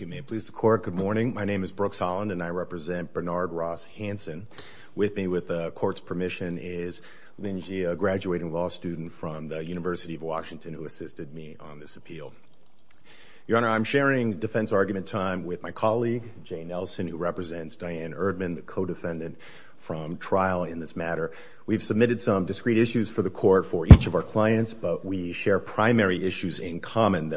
with me with the court's permission is Linjia, a graduating law student from the University of Washington, who assisted me on this appeal. Your Honor, I'm sharing defense argument time with my colleague, Jay Nelson, who represents Diane Erdman, the co-defendant from trial in this matter. We've submitted some discrete issues for the court for each of our clients, that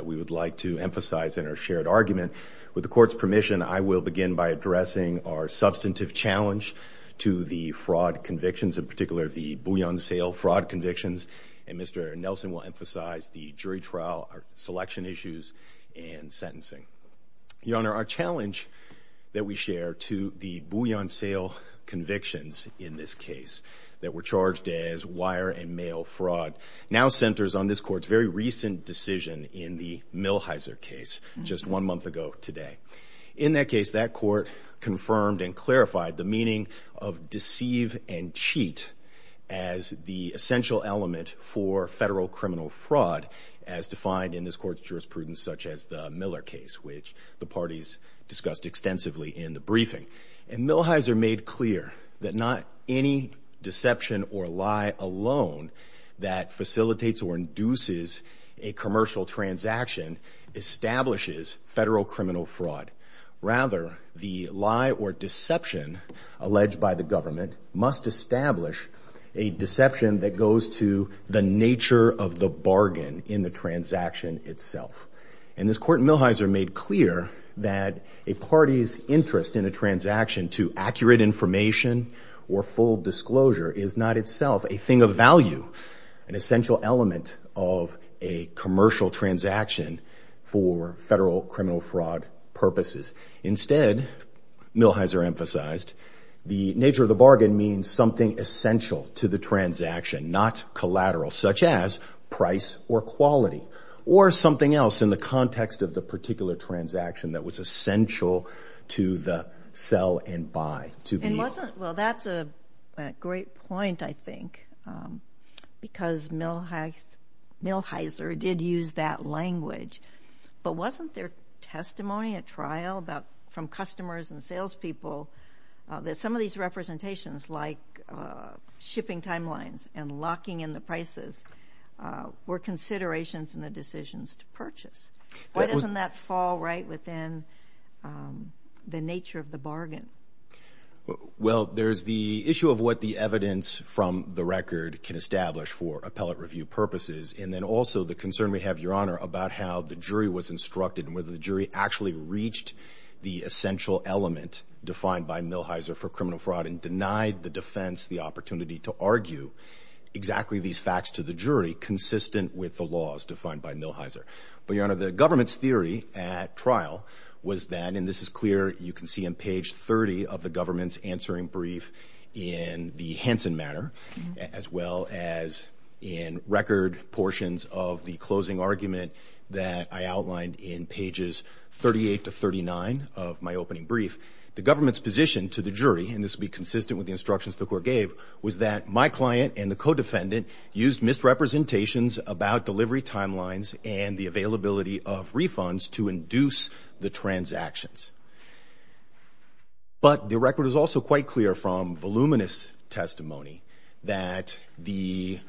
we would like to emphasize in our shared argument. With the court's permission, I will begin by addressing our substantive challenge to the fraud convictions, in particular, the bouillon sale fraud convictions. And Mr. Nelson will emphasize the jury trial selection issues and sentencing. Your Honor, our challenge that we share to the bouillon sale convictions in this case that were charged as wire and mail fraud, now centers on this court's very recent decision in the Millheiser case, just one month ago today. In that case, that court confirmed and clarified the meaning of deceive and cheat as the essential element for federal criminal fraud, as defined in this court's jurisprudence, such as the Miller case, which the parties discussed extensively in the briefing. And Millheiser made clear that not any deception or lie alone that facilitates or induces a commercial transaction establishes federal criminal fraud. Rather, the lie or deception alleged by the government must establish a deception that goes to the nature of the bargain in the transaction itself. And this court in Millheiser made clear that a party's interest in a transaction to accurate information or full disclosure is not itself a thing of value, an essential element of a commercial transaction for federal criminal fraud purposes. Instead, Millheiser emphasized, the nature of the bargain means something essential to the transaction, not collateral, such as price or quality, or something else in the context of the particular transaction that was essential to the sell and buy. Well, that's a great point, I think, because Millheiser did use that language, but wasn't there testimony at trial from customers and salespeople that some of these representations, like shipping timelines and locking in the prices, were considerations in the decisions to purchase? Why doesn't that fall right within the nature of the bargain? Well, there's the issue of what the evidence from the record can establish for appellate review purposes, and then also the concern we have, Your Honor, about how the jury was instructed and whether the jury actually reached the essential element defined by Millheiser for criminal fraud and denied the defense the opportunity to argue exactly these facts to the jury consistent with the laws defined by Millheiser. But, Your Honor, the government's theory at trial was then, and this is clear, you can see on page 30 of the government's answering brief in the Hansen matter, as well as in record portions of the closing argument that I outlined in pages 38 to 39 of my opening brief, the government's position to the jury, and this would be consistent with the instructions the court gave, was that my client and the co-defendant used misrepresentations about delivery timelines and the availability of refunds to induce the transactions. But the record is also quite clear from voluminous testimony that the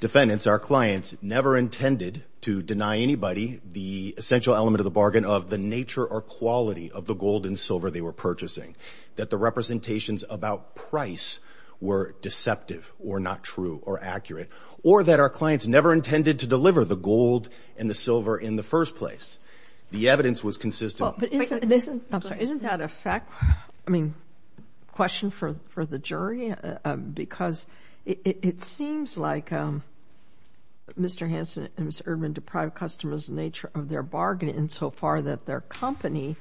defendants, our clients, never intended to deny anybody the essential element of the bargain of the nature or quality of the gold and silver they were purchasing, that the representations about price were deceptive or not true or accurate, or that our clients never intended to deliver the evidence was consistent. Isn't that a question for the jury? Because it seems like Mr. Hansen and Mr. Erdman deprived customers of the nature of their bargain insofar that their company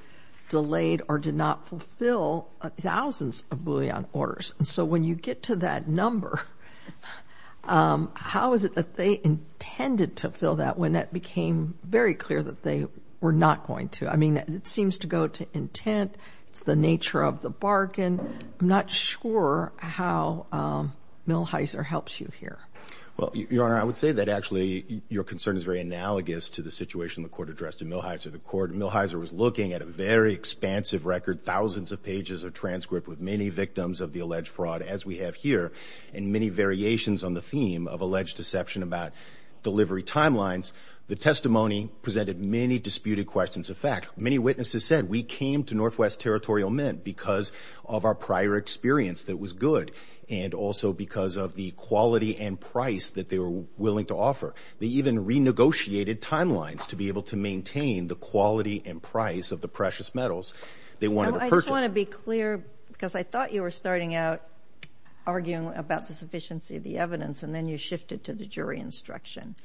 delayed or did not fulfill thousands of bullion orders. So when you get to that number, um, how is it that they intended to fill that when that became very clear that they were not going to? I mean, it seems to go to intent. It's the nature of the bargain. I'm not sure how, um, Millheiser helps you here. Well, Your Honor, I would say that actually your concern is very analogous to the situation the court addressed in Millheiser. The court in Millheiser was looking at a very expansive record, thousands of pages of transcript with many victims of the alleged fraud, as we have here, and many variations on the theme of alleged deception about delivery timelines. The testimony presented many disputed questions of fact. Many witnesses said we came to Northwest Territorial Mint because of our prior experience that was good and also because of the quality and price that they were willing to offer. They even renegotiated timelines to be able to maintain the quality and price of the precious metals they wanted to purchase. I just want to be clear because I thought you were starting out arguing about the sufficiency of the evidence, and then you shifted to the jury instruction.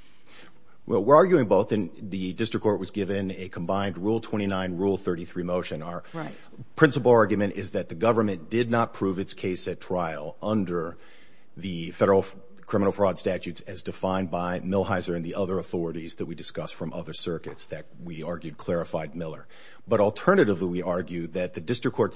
Well, we're arguing both, and the district court was given a combined Rule 29, Rule 33 motion. Our principal argument is that the government did not prove its case at trial under the federal criminal fraud statutes as defined by Millheiser and the other authorities that we discussed from other circuits that we argued clarified Miller. But the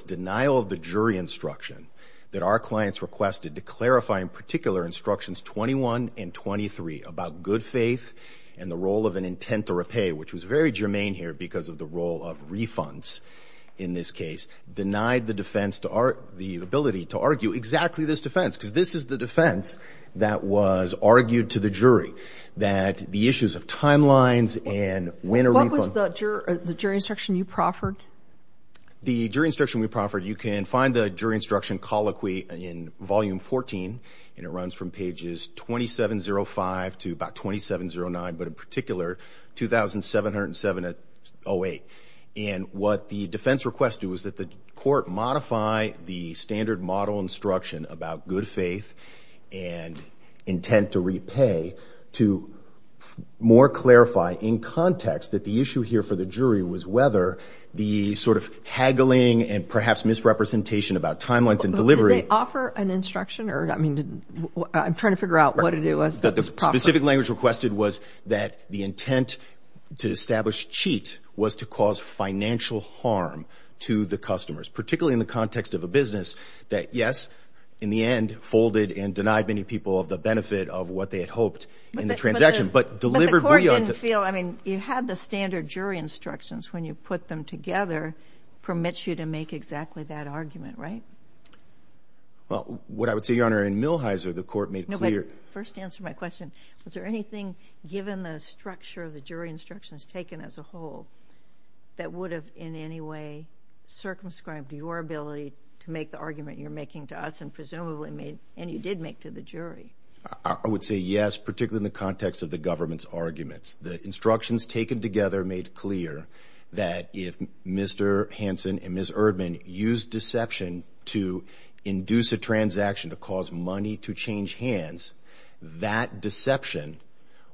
denial of the jury instruction that our clients requested to clarify in particular instructions 21 and 23 about good faith and the role of an intent to repay, which was very germane here because of the role of refunds in this case, denied the defense to our the ability to argue exactly this defense because this is the defense that was argued to the jury that the issues of timelines and What was the jury instruction you proffered? The jury instruction we proffered, you can find the jury instruction colloquy in volume 14, and it runs from pages 2705 to about 2709, but in particular 2707-08. And what the defense requested was that the court modify the standard model instruction about good faith and intent to repay to more clarify in context that the issue here for the jury was whether the sort of haggling and perhaps misrepresentation about timelines and delivery. Did they offer an instruction or, I mean, I'm trying to figure out what it was that the specific language requested was that the intent to establish cheat was to cause financial harm to the customers, particularly in the context of a business that, yes, in the end folded and denied many people of the benefit of what they had hoped in the transaction, but delivered... But the court didn't feel, I mean, you had the standard jury instructions when you put them together permits you to make exactly that argument, right? Well, what I would say, Your Honor, in Millhiser, the court made clear... First answer my question. Was there anything given the structure of the jury instructions taken as a whole that would have in any way circumscribed your ability to make the argument you're making to us and presumably made, and you did make to the jury? I would say yes, particularly in the context of the government's arguments. The instructions taken together made clear that if Mr. Hansen and Ms. Erdman used deception to induce a transaction to cause money to change hands, that deception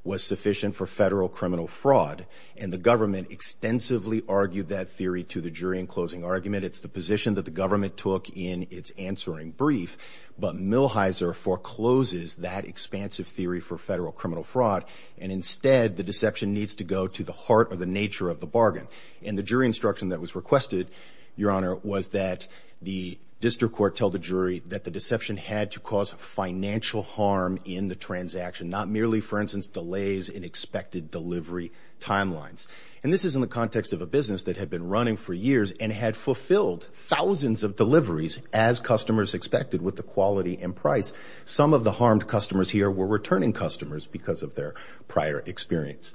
was sufficient for federal criminal fraud. And the government extensively argued that theory to the jury in closing argument. It's the position that the government took in its answering brief, but Millhiser forecloses that expansive theory for federal criminal fraud. And instead, the deception needs to go to the heart of the nature of the bargain. And the jury instruction that was requested, Your Honor, was that the district court tell the jury that the deception had to cause financial harm in the transaction, not merely, for instance, delays in expected delivery timelines. And this is in the context of a business that had been running for years and had fulfilled thousands of deliveries as customers expected with the quality and price. Some of the harmed customers here were returning customers because of their prior experience.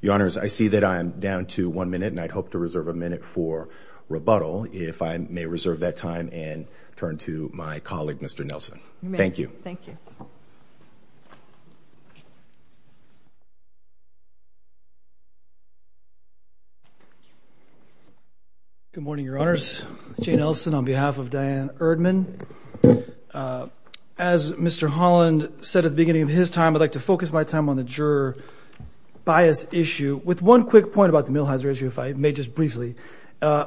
Your Honors, I see that I'm down to one minute and I'd hope to reserve a minute for Jane Elson. Thank you. Good morning, Your Honors. Jane Elson on behalf of Diane Erdman. As Mr. Holland said at the beginning of his time, I'd like to focus my time on the juror bias issue with one quick point about the Millhiser issue, if I may just briefly.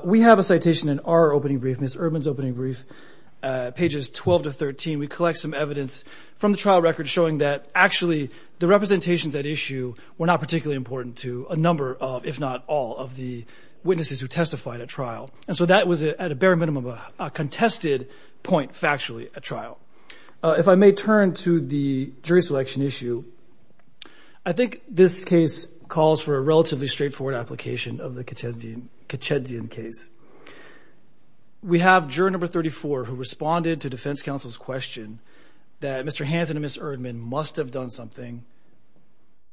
We have a citation in our opening brief, Ms. Erdman's opening brief, pages 12 to 13. We collect some evidence from the trial record showing that actually the representations at issue were not particularly important to a number of, if not all, of the witnesses who testified at trial. And so that was at a bare minimum, a contested point factually at trial. If I may turn to the jury selection issue, I think this case calls for a relatively straightforward application of the Kachedzian case. We have juror number 34 who responded to defense counsel's question that Mr. Hanson and Ms. Erdman must have done something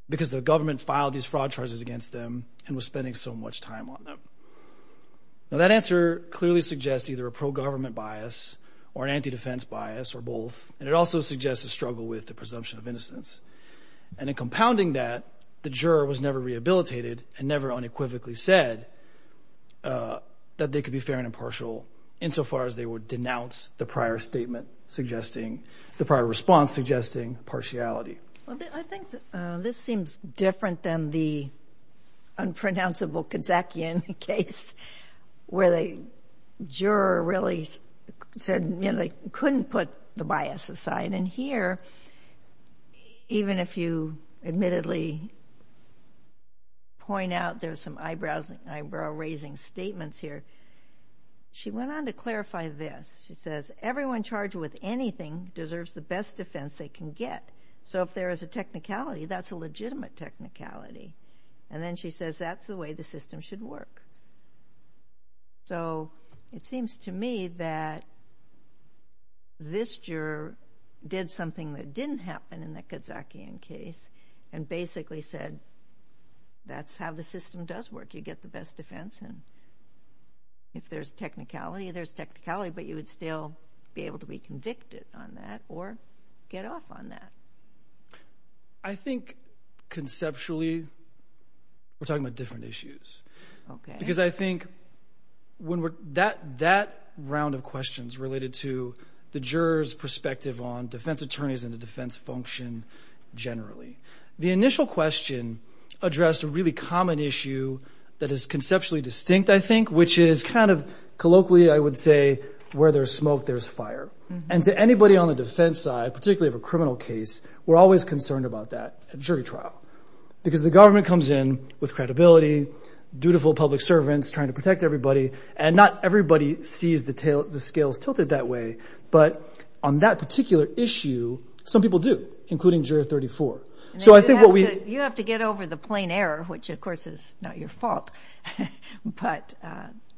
because the government filed these fraud charges against them and was spending so much time on them. Now that answer clearly suggests either a pro-government bias or an anti-defense bias or both. And it also suggests a struggle with the presumption of innocence. And in compounding that, the juror was never rehabilitated and never unequivocally said that they could be fair and impartial insofar as they would denounce the prior statement suggesting, the prior response suggesting partiality. I think this seems different than the unpronounceable Kachedzian case where the juror really said they couldn't put the bias aside. And here, even if you admittedly point out there's some eyebrows, eyebrow-raising statements here, she went on to clarify this. She says, everyone charged with anything deserves the best defense they can get. So if there is a technicality, that's a legitimate technicality. And then she says that's the way the system should work. So it seems to me that this juror did something that didn't happen in the Kachedzian case and basically said, that's how the system does work. You get the best defense. And if there's technicality, there's technicality, but you would still be able to be convicted on that or get off on that. I think conceptually, we're talking about different issues. Okay. Because I think when we're, that round of questions related to the juror's perspective on defense attorneys and the defense function generally, the initial question addressed a really common issue that is conceptually distinct, I think, which is kind of colloquially, I would say, where there's smoke, there's fire. And to anybody on the defense side, particularly of a criminal case, we're always concerned about that at jury trial. Because the government comes in with credibility, dutiful public servants trying to protect everybody, and not everybody sees the scales tilted that way. But on that particular issue, some people do, including juror 34. So I think what we... You have to get over the plain error, which of course is not your fault. But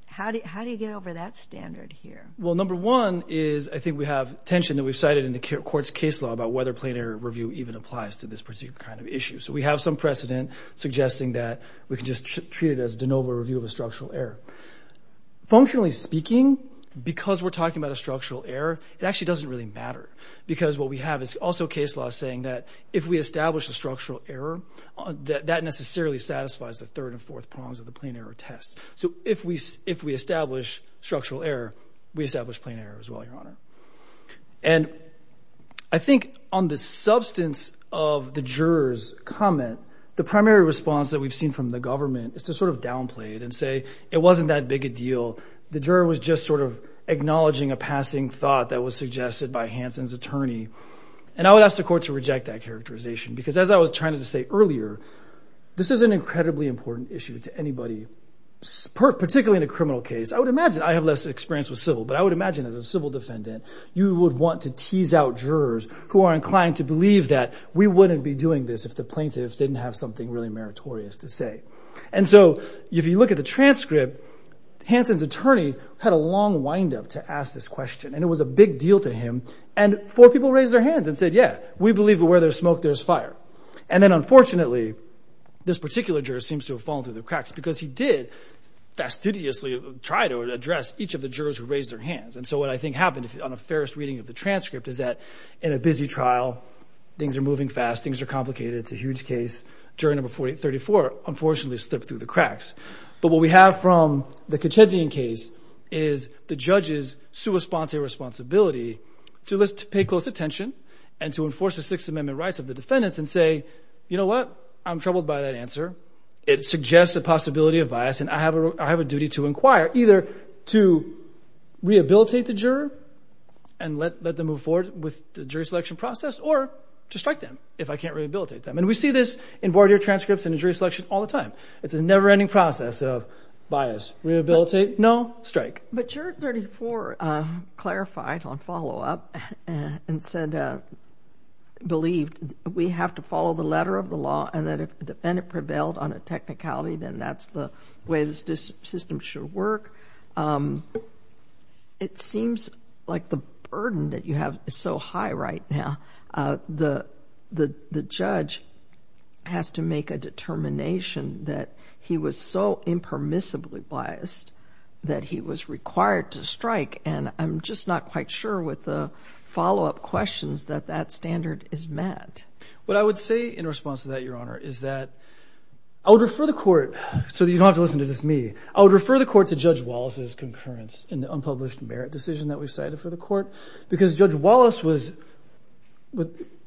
how do you get over that standard here? Well, number one is, I think we have tension that we've cited in the court's case law about whether plain error review even applies to this particular kind of issue. So we have some precedent suggesting that we can just treat it as de novo review of a structural error. Functionally speaking, because we're talking about a structural error, it actually doesn't really matter. Because what we have is also case law saying that if we establish the structural error, that necessarily satisfies the third and fourth prongs of the plain error test. So if we establish structural error, we establish plain error as well, Your Honor. And I think on the substance of the juror's comment, the primary response that we've seen from the government is to sort of downplay it and say, it wasn't that big a deal. The juror was just sort of acknowledging a passing thought that was suggested by Hansen's attorney. And I would ask the court to reject that characterization. Because as I was trying to say earlier, this is an incredibly important issue to anybody, particularly in a criminal case. I would imagine, I have less experience with civil, but I would imagine as a civil defendant, you would want to tease out jurors who are inclined to believe that we wouldn't be doing this if the plaintiffs didn't have something really meritorious to say. And so if you look at the transcript, Hansen's attorney had a long windup to ask this question. And it was a big deal to him. And four people raised their hands and said, yeah, we believe that where there's smoke, there's fire. And then unfortunately, this particular juror seems to have fallen through the cracks because he did fastidiously try to address each of the jurors who raised their hands. And so what I think happened on a fairest reading of the transcript is that in a busy trial, things are moving fast. Things are complicated. It's a huge case. Juror number 34, unfortunately, slipped through the cracks. But what we have from the Kachedzian case is the judge's sua sponte responsibility to pay close attention and to enforce the Sixth Amendment rights of the defendants and say, you know what? I'm troubled by that answer. It suggests a possibility of bias. And I have a duty to inquire, either to or to strike them if I can't rehabilitate them. And we see this in voir dire transcripts and in jury selection all the time. It's a never-ending process of bias, rehabilitate, no, strike. But juror 34 clarified on follow-up and said, believed we have to follow the letter of the law and that if the defendant prevailed on a technicality, then that's the way this system should work. It seems like the burden that you have is so high right now. The judge has to make a determination that he was so impermissibly biased that he was required to strike. And I'm just not quite sure with the follow-up questions that that standard is met. What I would say in response to that, Your Honor, is that I would refer the court so that you don't have to listen to just me. I would refer the court to Judge Wallace's concurrence in the unpublished merit decision that we cited for the court, because Judge Wallace was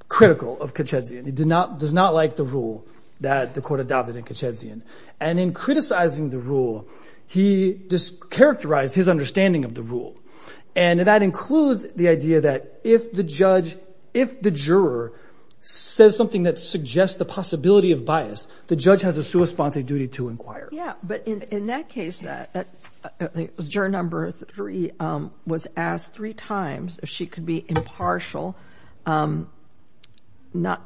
critical of Katchezian. He did not, does not like the rule that the court adopted in Katchezian. And in criticizing the rule, he characterized his understanding of the rule. And that includes the idea that if the judge, if the juror says something that suggests the possibility of bias, the judge has a responsive duty to inquire. Yeah, but in that case, the juror number three was asked three times if she could be impartial. Not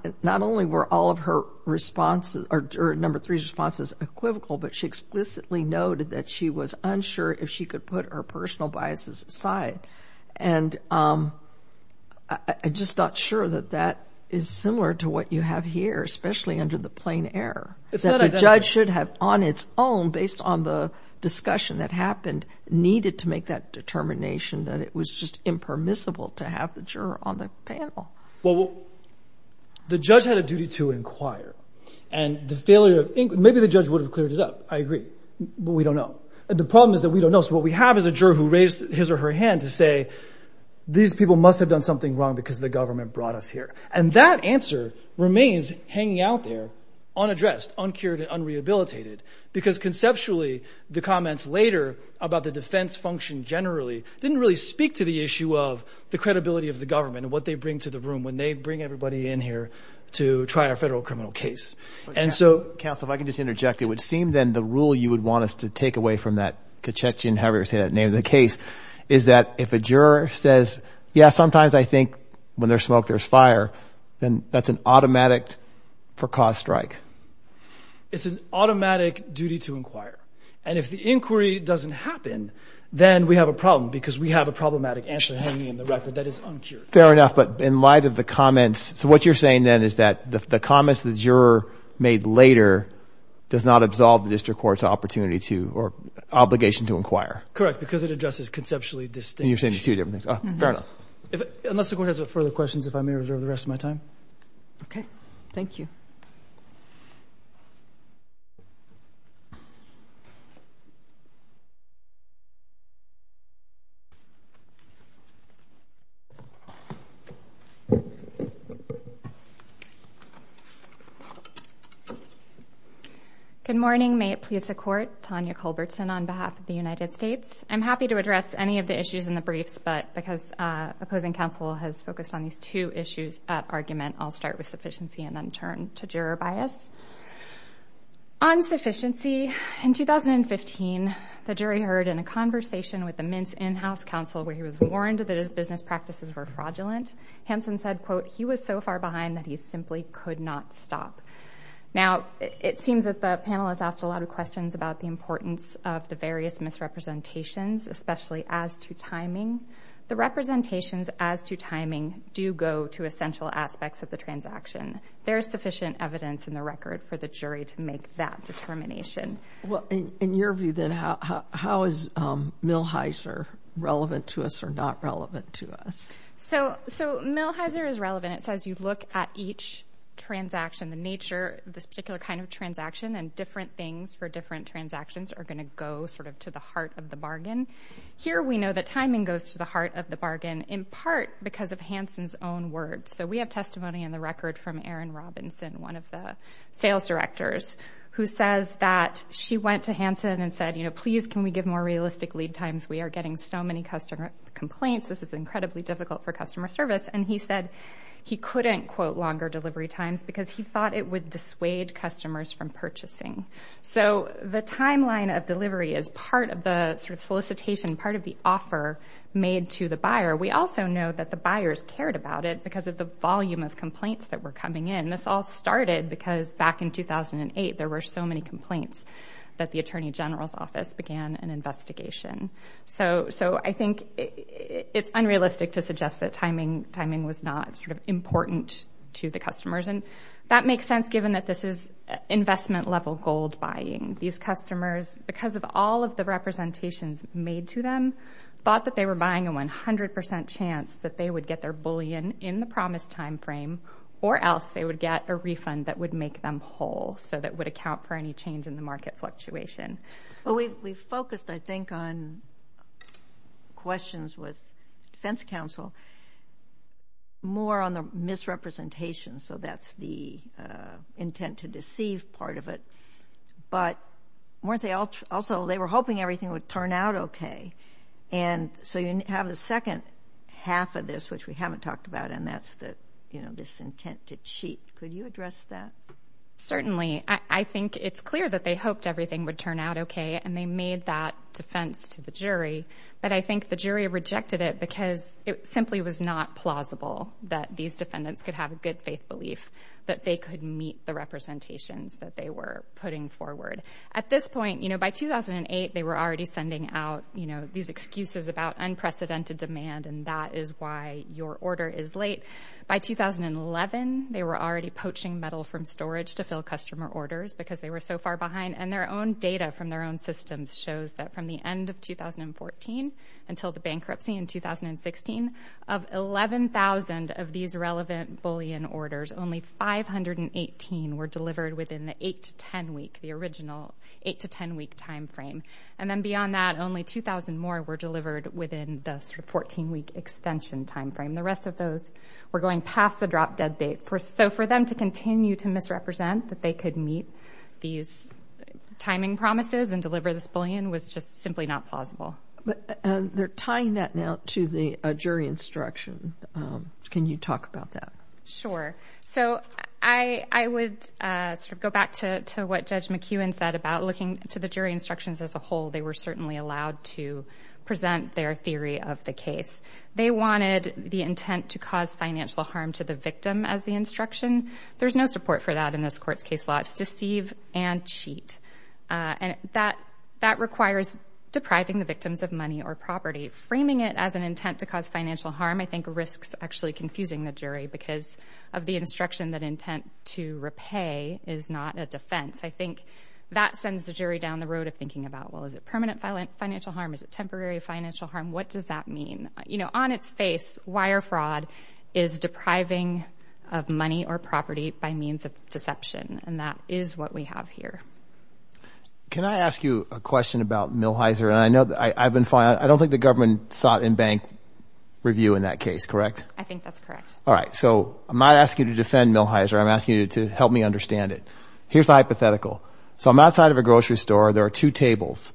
only were all of her responses, or number three's responses equivocal, but she explicitly noted that she was unsure if she could put her personal biases aside. And I'm just not sure that that is similar to what you have here, especially under the on its own, based on the discussion that happened, needed to make that determination, that it was just impermissible to have the juror on the panel. Well, the judge had a duty to inquire and the failure of inquiry, maybe the judge would have cleared it up. I agree, but we don't know. The problem is that we don't know. So what we have is a juror who raised his or her hand to say, these people must have done something wrong because the government brought us here. And that because conceptually, the comments later about the defense function generally, didn't really speak to the issue of the credibility of the government and what they bring to the room when they bring everybody in here to try a federal criminal case. Counsel, if I could just interject, it would seem then the rule you would want us to take away from that Kachechian, however you say that name of the case, is that if a juror says, yeah, sometimes I automatic for cause strike. It's an automatic duty to inquire. And if the inquiry doesn't happen, then we have a problem because we have a problematic answer hanging in the record that is uncured. Fair enough. But in light of the comments, so what you're saying then is that the comments that juror made later does not absolve the district court's opportunity to or obligation to inquire. Correct. Because it addresses conceptually distinct. You're saying two different things. Fair enough. Unless the court has further questions, if I may reserve the rest of my time. Okay. Thank you. Good morning. May it please the court. Tanya Culbertson on behalf of the United States. I'm happy to address any of the issues in the briefs, but because opposing counsel has focused on these two issues at argument, I'll start with sufficiency and then turn to juror bias. On sufficiency, in 2015, the jury heard in a conversation with the Mintz in-house counsel where he was warned that his business practices were fraudulent. Hanson said, quote, he was so far behind that he simply could not stop. Now, it seems that the panel has asked a lot of questions about the importance of the various misrepresentations, especially as to timing. The representations as to timing do go to essential aspects of the transaction. There is sufficient evidence in the record for the jury to make that determination. Well, in your view, then, how is Milheiser relevant to us or not relevant to us? So Milheiser is relevant. It says you look at each transaction, the nature of this particular kind of transaction, and different things for different transactions are going to go to the heart of the bargain. Here, we know that timing goes to the heart of the bargain in part because of Hanson's own words. So we have testimony in the record from Erin Robinson, one of the sales directors, who says that she went to Hanson and said, please, can we give more realistic lead times? We are getting so many customer complaints. This is incredibly difficult for customer service. And he said he couldn't quote longer delivery times because he thought it would dissuade customers from purchasing. So the timeline of delivery is part of the solicitation, part of the offer made to the buyer. We also know that the buyers cared about it because of the volume of complaints that were coming in. This all started because back in 2008, there were so many complaints that the Attorney General's Office began an investigation. So I think it's unrealistic to suggest that timing was not important to the customers. And that makes sense given that this is investment-level gold buying. These customers, because of all of the representations made to them, thought that they were buying a 100% chance that they would get their bullion in the promised timeframe, or else they would get a refund that would make them whole, so that would account for any change in the market fluctuation. Well, we focused, I think, on questions with defense counsel more on the misrepresentation. So that's the intent to deceive part of it. But weren't they also, they were hoping everything would turn out okay. And so you have the second half of this, which we haven't talked about, and that's this intent to cheat. Could you address that? Certainly. I think it's clear that they hoped everything would turn out okay, and they made that defense to the jury. But I think the jury rejected it because it simply was not plausible that these defendants could have a good faith belief that they could meet the representations that they were putting forward. At this point, by 2008, they were already sending out these excuses about unprecedented demand, and that is why your order is late. By 2011, they were already poaching metal from storage to fill customer orders because they were so far behind. And their own data from their own systems shows that from the end of 2014 until the bankruptcy in 2016, of 11,000 of these relevant bullion orders, only 518 were delivered within the 8-10 week, the original 8-10 week time frame. And then beyond that, only 2,000 more were delivered within the 14-week extension time frame. The rest of those were going past the drop dead date. So for them to continue to misrepresent that they could meet these timing promises and deliver this But they're tying that now to the jury instruction. Can you talk about that? Sure. So I would go back to what Judge McEwen said about looking to the jury instructions as a whole. They were certainly allowed to present their theory of the case. They wanted the intent to cause financial harm to the victim as the instruction. There's no support for that in this court's case law. It's deceive and cheat. And that requires depriving the victims of money or property. Framing it as an intent to cause financial harm, I think, risks actually confusing the jury because of the instruction that intent to repay is not a defense. I think that sends the jury down the road of thinking about, well, is it permanent financial harm? Is it temporary financial harm? What does that mean? You know, on its face, wire fraud is depriving of money or And that is what we have here. Can I ask you a question about Millhiser? And I know I've been fine. I don't think the government sought in bank review in that case, correct? I think that's correct. All right. So I'm not asking you to defend Millhiser. I'm asking you to help me understand it. Here's the hypothetical. So I'm outside of a grocery store. There are two tables.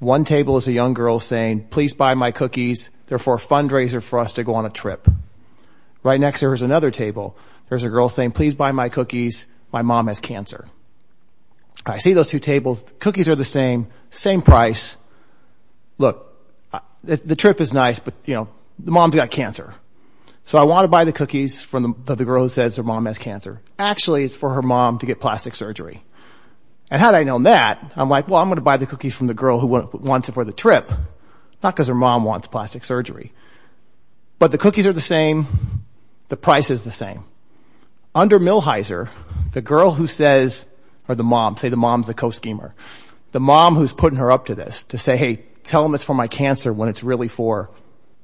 One table is a young girl saying, please buy my cookies. They're for a fundraiser for us to go on a trip. Right next to her is another table. There's a girl saying, please buy my mom has cancer. I see those two tables. Cookies are the same, same price. Look, the trip is nice, but you know, the mom's got cancer. So I want to buy the cookies for the girl who says her mom has cancer. Actually, it's for her mom to get plastic surgery. And had I known that, I'm like, well, I'm going to buy the cookies from the girl who wants it for the trip. Not because her mom wants plastic surgery. But the cookies are the same. The price is the same. Under Millhiser, the girl who says, or the mom, say the mom's the co-schemer, the mom who's putting her up to this to say, hey, tell them it's for my cancer when it's really for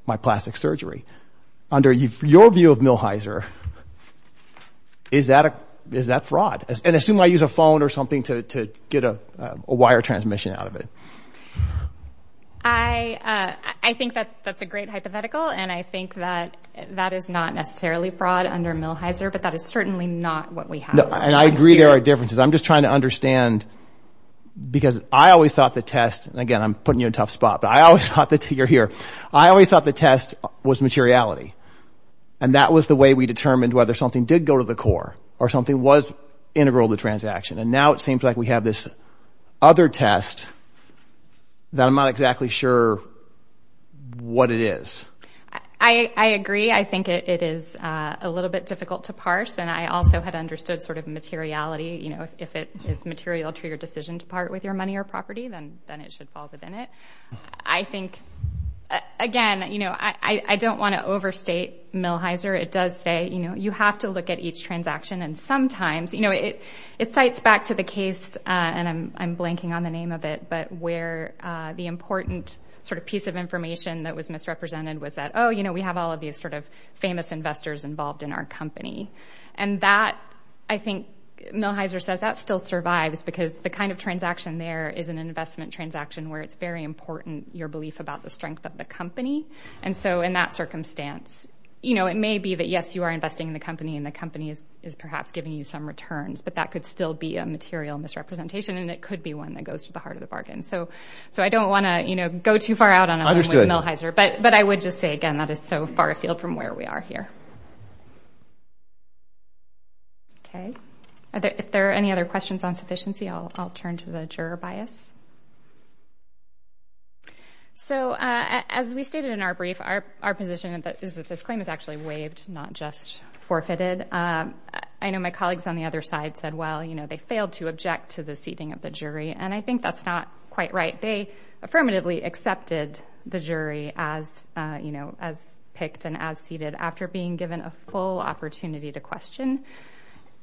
my plastic surgery. Under your view of Millhiser, is that fraud? And assume I use a phone or something to get a wire transmission out of it. I think that that's a great hypothetical. And I think that that is not necessarily fraud under Millhiser, but that is certainly not what we have. And I agree there are differences. I'm just trying to understand because I always thought the test, and again, I'm putting you in a tough spot, but I always thought that you're here. I always thought the test was materiality. And that was the way we determined whether something did go to the core or something was integral to the transaction. And now it seems like we have this other test that I'm not exactly sure what it is. I agree. I think it is a little bit difficult to parse. And I also had understood sort of materiality. If it is material to your decision to part with your money or property, then it should fall within it. I think, again, I don't want to overstate Millhiser. It does say you have to look at each transaction. And sometimes, it cites back to the case, and I'm blanking on the we have all of these sort of famous investors involved in our company. And that, I think, Millhiser says that still survives because the kind of transaction there is an investment transaction where it's very important, your belief about the strength of the company. And so in that circumstance, it may be that, yes, you are investing in the company, and the company is perhaps giving you some returns, but that could still be a material misrepresentation, and it could be one that goes to the heart of the bargain. So I don't want to go too far out of line with Millhiser. But I would just say, again, that is so far afield from where we are here. Okay. If there are any other questions on sufficiency, I'll turn to the juror bias. So as we stated in our brief, our position is that this claim is actually waived, not just forfeited. I know my colleagues on the other side said, well, they failed to object to the jury as picked and as seated after being given a full opportunity to question.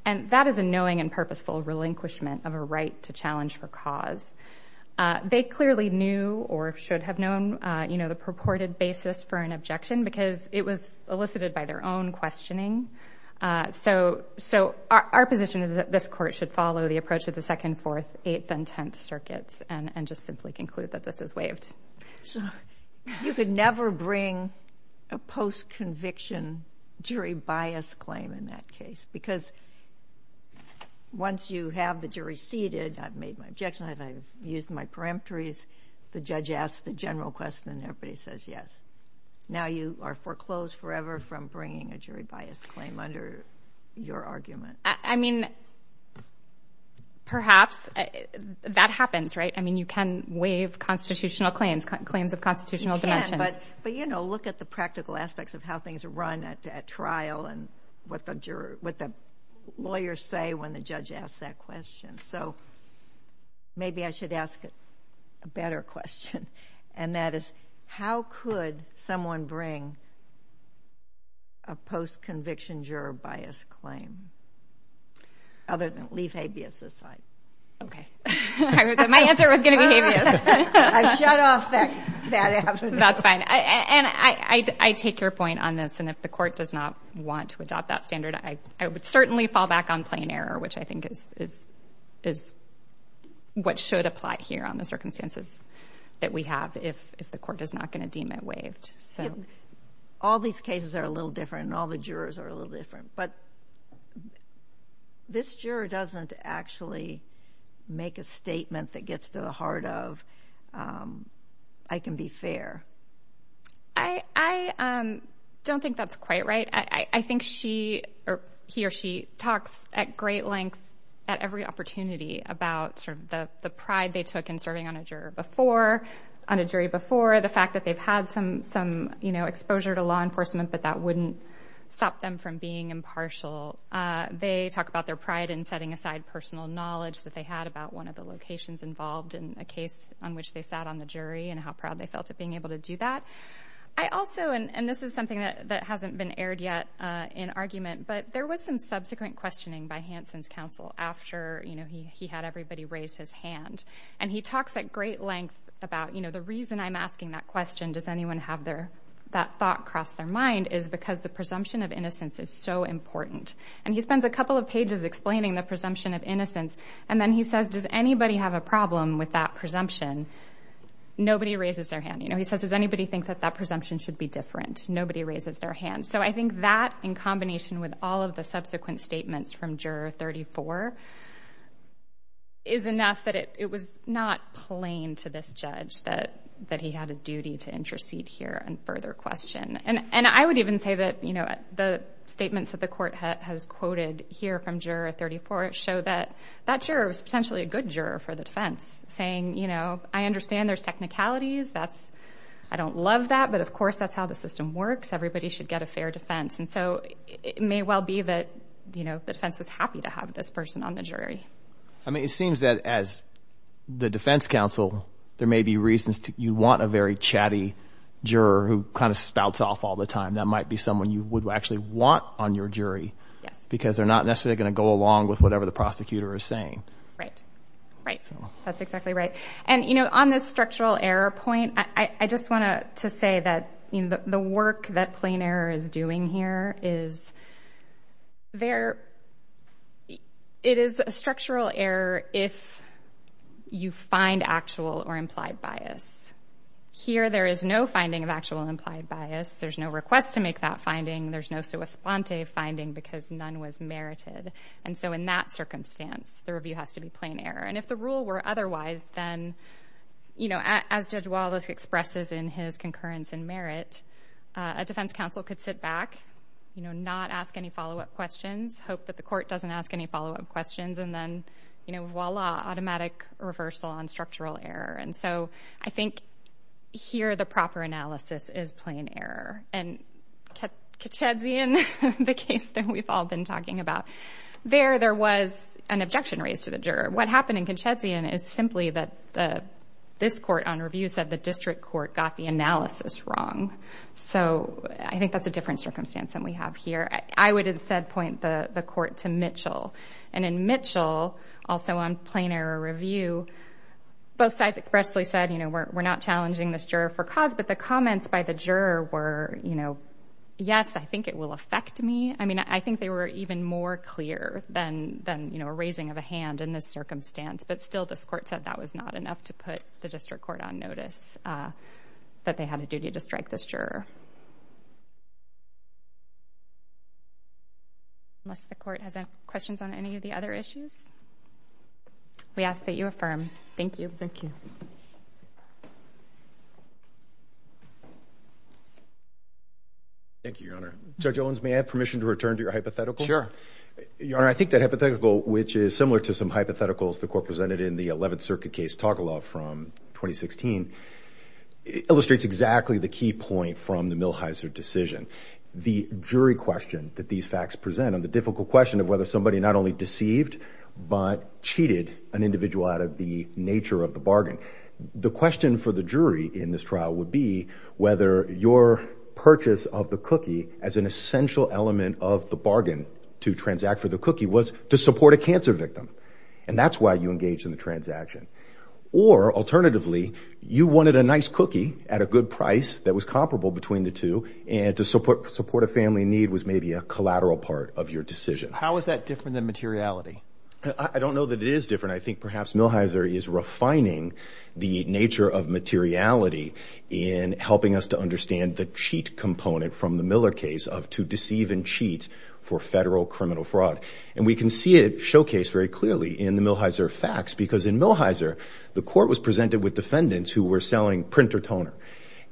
And that is a knowing and purposeful relinquishment of a right to challenge for cause. They clearly knew or should have known the purported basis for an objection because it was elicited by their own questioning. So our position is that this court should follow the approach of the second, fourth, eighth, and tenth circuits and just simply conclude that this is waived. So you could never bring a post-conviction jury bias claim in that case because once you have the jury seated, I've made my objection, I've used my peremptories, the judge asks the general question, everybody says yes. Now you are foreclosed forever from bringing a jury bias claim under your argument. I mean, perhaps that happens, right? I mean, you can waive constitutional claims, claims of constitutional dimension. You can, but, you know, look at the practical aspects of how things are run at trial and what the jurors, what the lawyers say when the judge asks that question. So maybe I should ask a better question, and that is how could someone bring a post-conviction juror bias claim other than leave habeas aside? Okay. My answer was going to be habeas. I shut off that afternoon. That's fine. And I take your point on this, and if the court does not want to adopt that standard, I would certainly fall back on plain error, which I think is what should apply here on the circumstances that we have if the court is not going to deem it waived. All these cases are a little different and all the jurors are a little different, but this juror doesn't actually make a statement that gets to the heart of I can be fair. I don't think that's quite right. I think she or he or she talks at great length at every opportunity about sort of the pride they took in serving on a jury before, on a jury before, the fact that they've had some, you know, exposure to law enforcement, but that wouldn't stop them from being impartial. They talk about their pride in setting aside personal knowledge that they had about one of the locations involved in a case on which they sat on the jury and how proud they felt at being able to do that. I also, and this is something that hasn't been aired yet in argument, but there was some subsequent questioning by Hansen's counsel after, you know, he had everybody raise his hand, and he talks at great length about, you know, the reason I'm asking that question, does anyone have that thought cross their mind, is because the presumption of innocence is so important. And he spends a couple of pages explaining the presumption of innocence, and then he says, does anybody have a problem with that presumption? Nobody raises their hand. You know, he says, does anybody think that that presumption should be different? Nobody raises their hand. So I think that, in combination with all of the subsequent statements from Juror 34 is enough that it was not plain to this judge that he had a duty to intercede here and further question. And I would even say that, you know, the statements that the court has quoted here from Juror 34 show that that juror was potentially a good juror for the defense, saying, you know, I understand there's technicalities. That's, I don't love that, but of course that's how the system works. Everybody should get a fair defense. And so it may well be that, you know, the defense was happy to have this person on the jury. I mean, it seems that as the defense counsel, there may be reasons to, you want a very chatty juror who kind of spouts off all the time. That might be someone you would actually want on your jury, because they're not necessarily going to go along with whatever the prosecutor is saying. Right, right. That's exactly right. And, you know, on this structural error point, I just want to say that, you know, the work that Plain Error is doing here is, it is a structural error if you find actual or implied bias. Here, there is no finding of actual implied bias. There's no request to make that finding. There's no sua sponte finding, because none was merited. And so in that circumstance, the review has to be Plain Error. And if the rule were otherwise, then, you know, as Judge Wallace expresses in his Incurrence and Merit, a defense counsel could sit back, you know, not ask any follow-up questions, hope that the court doesn't ask any follow-up questions, and then, you know, voila, automatic reversal on structural error. And so I think here, the proper analysis is Plain Error. And Katshedzian, the case that we've all been talking about, there, there was an objection raised to the juror. What happened in Katshedzian is simply that this court on review said the district court got the analysis wrong. So I think that's a different circumstance than we have here. I would instead point the court to Mitchell. And in Mitchell, also on Plain Error review, both sides expressly said, you know, we're not challenging this juror for cause, but the comments by the juror were, you know, yes, I think it will affect me. I mean, I think they were even more clear than, you know, a raising of a hand in this circumstance. But still, this court said that was not enough to put the district court on notice that they had a duty to strike this juror. Unless the court has any questions on any of the other issues? We ask that you affirm. Thank you. Thank you. Thank you, Your Honor. Judge Owens, may I have permission to return to your hypothetical? Sure. Your Honor, I think that hypothetical, which is similar to some hypotheticals the Eleventh Circuit case Togolov from 2016, illustrates exactly the key point from the Milhiser decision. The jury question that these facts present on the difficult question of whether somebody not only deceived, but cheated an individual out of the nature of the bargain. The question for the jury in this trial would be whether your purchase of the cookie as an essential element of the bargain to transact for the cookie was to support a cancer victim. And that's why you engaged in the transaction. Or, alternatively, you wanted a nice cookie at a good price that was comparable between the two and to support a family need was maybe a collateral part of your decision. How is that different than materiality? I don't know that it is different. I think perhaps Milhiser is refining the nature of materiality in helping us to understand the cheat component from the Miller case of to deceive and cheat for federal criminal fraud. And we can showcase very clearly in the Milhiser facts because in Milhiser, the court was presented with defendants who were selling printer toner.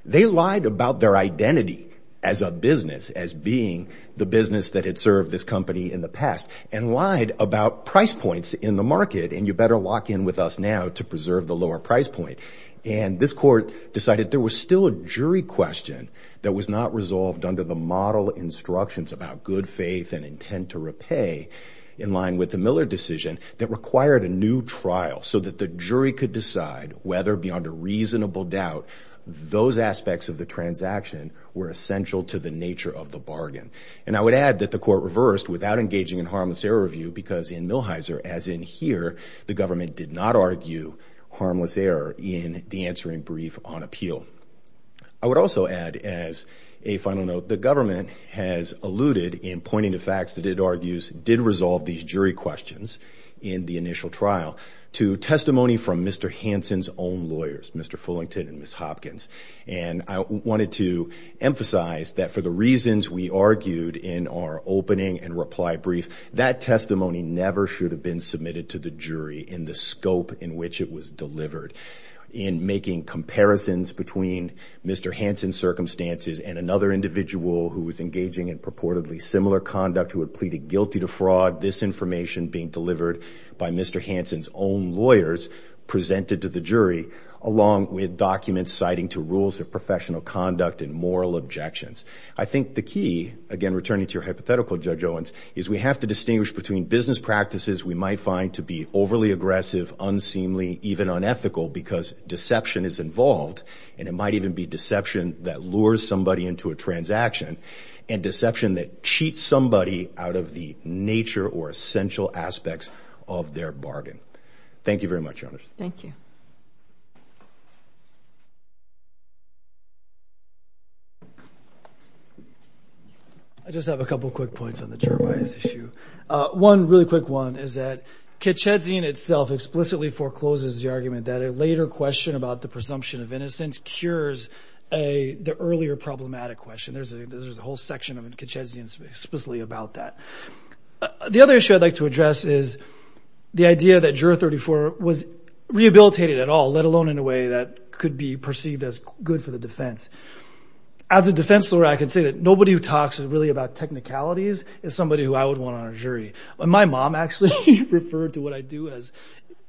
They lied about their identity as a business as being the business that had served this company in the past and lied about price points in the market. And you better lock in with us now to preserve the lower price point. And this court decided there was still a jury question that was not resolved under the model instructions about good faith and intent to repay in line with the Miller decision that required a new trial so that the jury could decide whether beyond a reasonable doubt those aspects of the transaction were essential to the nature of the bargain. And I would add that the court reversed without engaging in harmless error review because in Milhiser, as in here, the government did not argue harmless error in the answering brief on appeal. I would also add as a final note, the government has alluded in pointing to facts that it argues did resolve these jury questions in the initial trial to testimony from Mr. Hanson's own lawyers, Mr. Fullington and Ms. Hopkins. And I wanted to emphasize that for the reasons we argued in our opening and reply brief, that testimony never should have been submitted to the jury in the scope in which it was delivered in making comparisons between Mr. Hanson's circumstances and another individual who was engaging in purportedly similar conduct who had pleaded guilty to fraud, this information being delivered by Mr. Hanson's own lawyers presented to the jury along with documents citing to rules of professional conduct and moral objections. I think the key, again, returning to your hypothetical Judge Owens, is we have to distinguish between business practices we because deception is involved and it might even be deception that lures somebody into a transaction and deception that cheats somebody out of the nature or essential aspects of their bargain. Thank you very much, Your Honor. Thank you. I just have a couple of quick points on the juror bias issue. One really quick one is that a later question about the presumption of innocence cures the earlier problematic question. There's a whole section of Kitchezian's explicitly about that. The other issue I'd like to address is the idea that Juror 34 was rehabilitated at all, let alone in a way that could be perceived as good for the defense. As a defense lawyer, I can say that nobody who talks really about technicalities is somebody who I would want on a jury. When my mom actually referred to what I do as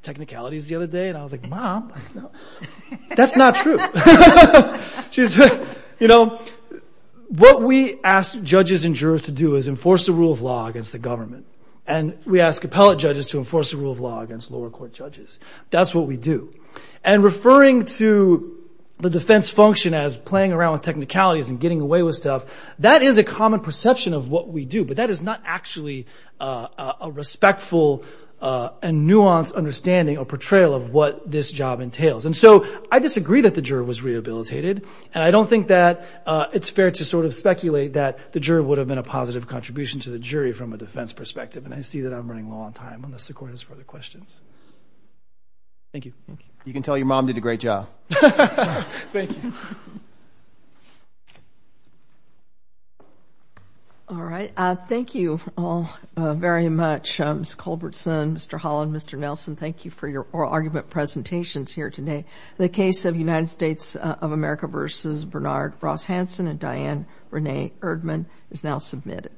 technicalities the other day, I was like, Mom, that's not true. What we ask judges and jurors to do is enforce the rule of law against the government. We ask appellate judges to enforce the rule of law against lower court judges. That's what we do. Referring to the defense function as playing around with technicalities and getting away with stuff, that is a common perception of what we do, but that is not actually a respectful and nuanced understanding or portrayal of what this job entails. I disagree that the juror was rehabilitated. I don't think that it's fair to speculate that the juror would have been a positive contribution to the jury from a defense perspective. I see that I'm running low on time unless the court has further questions. Thank you. You can tell your mom did a great job. Thank you. All right. Thank you all very much. Ms. Culbertson, Mr. Holland, Mr. Nelson, thank you for your oral argument presentations here today. The case of United States of America v. Bernard Ross Hansen and Diane Renee Erdman is now submitted.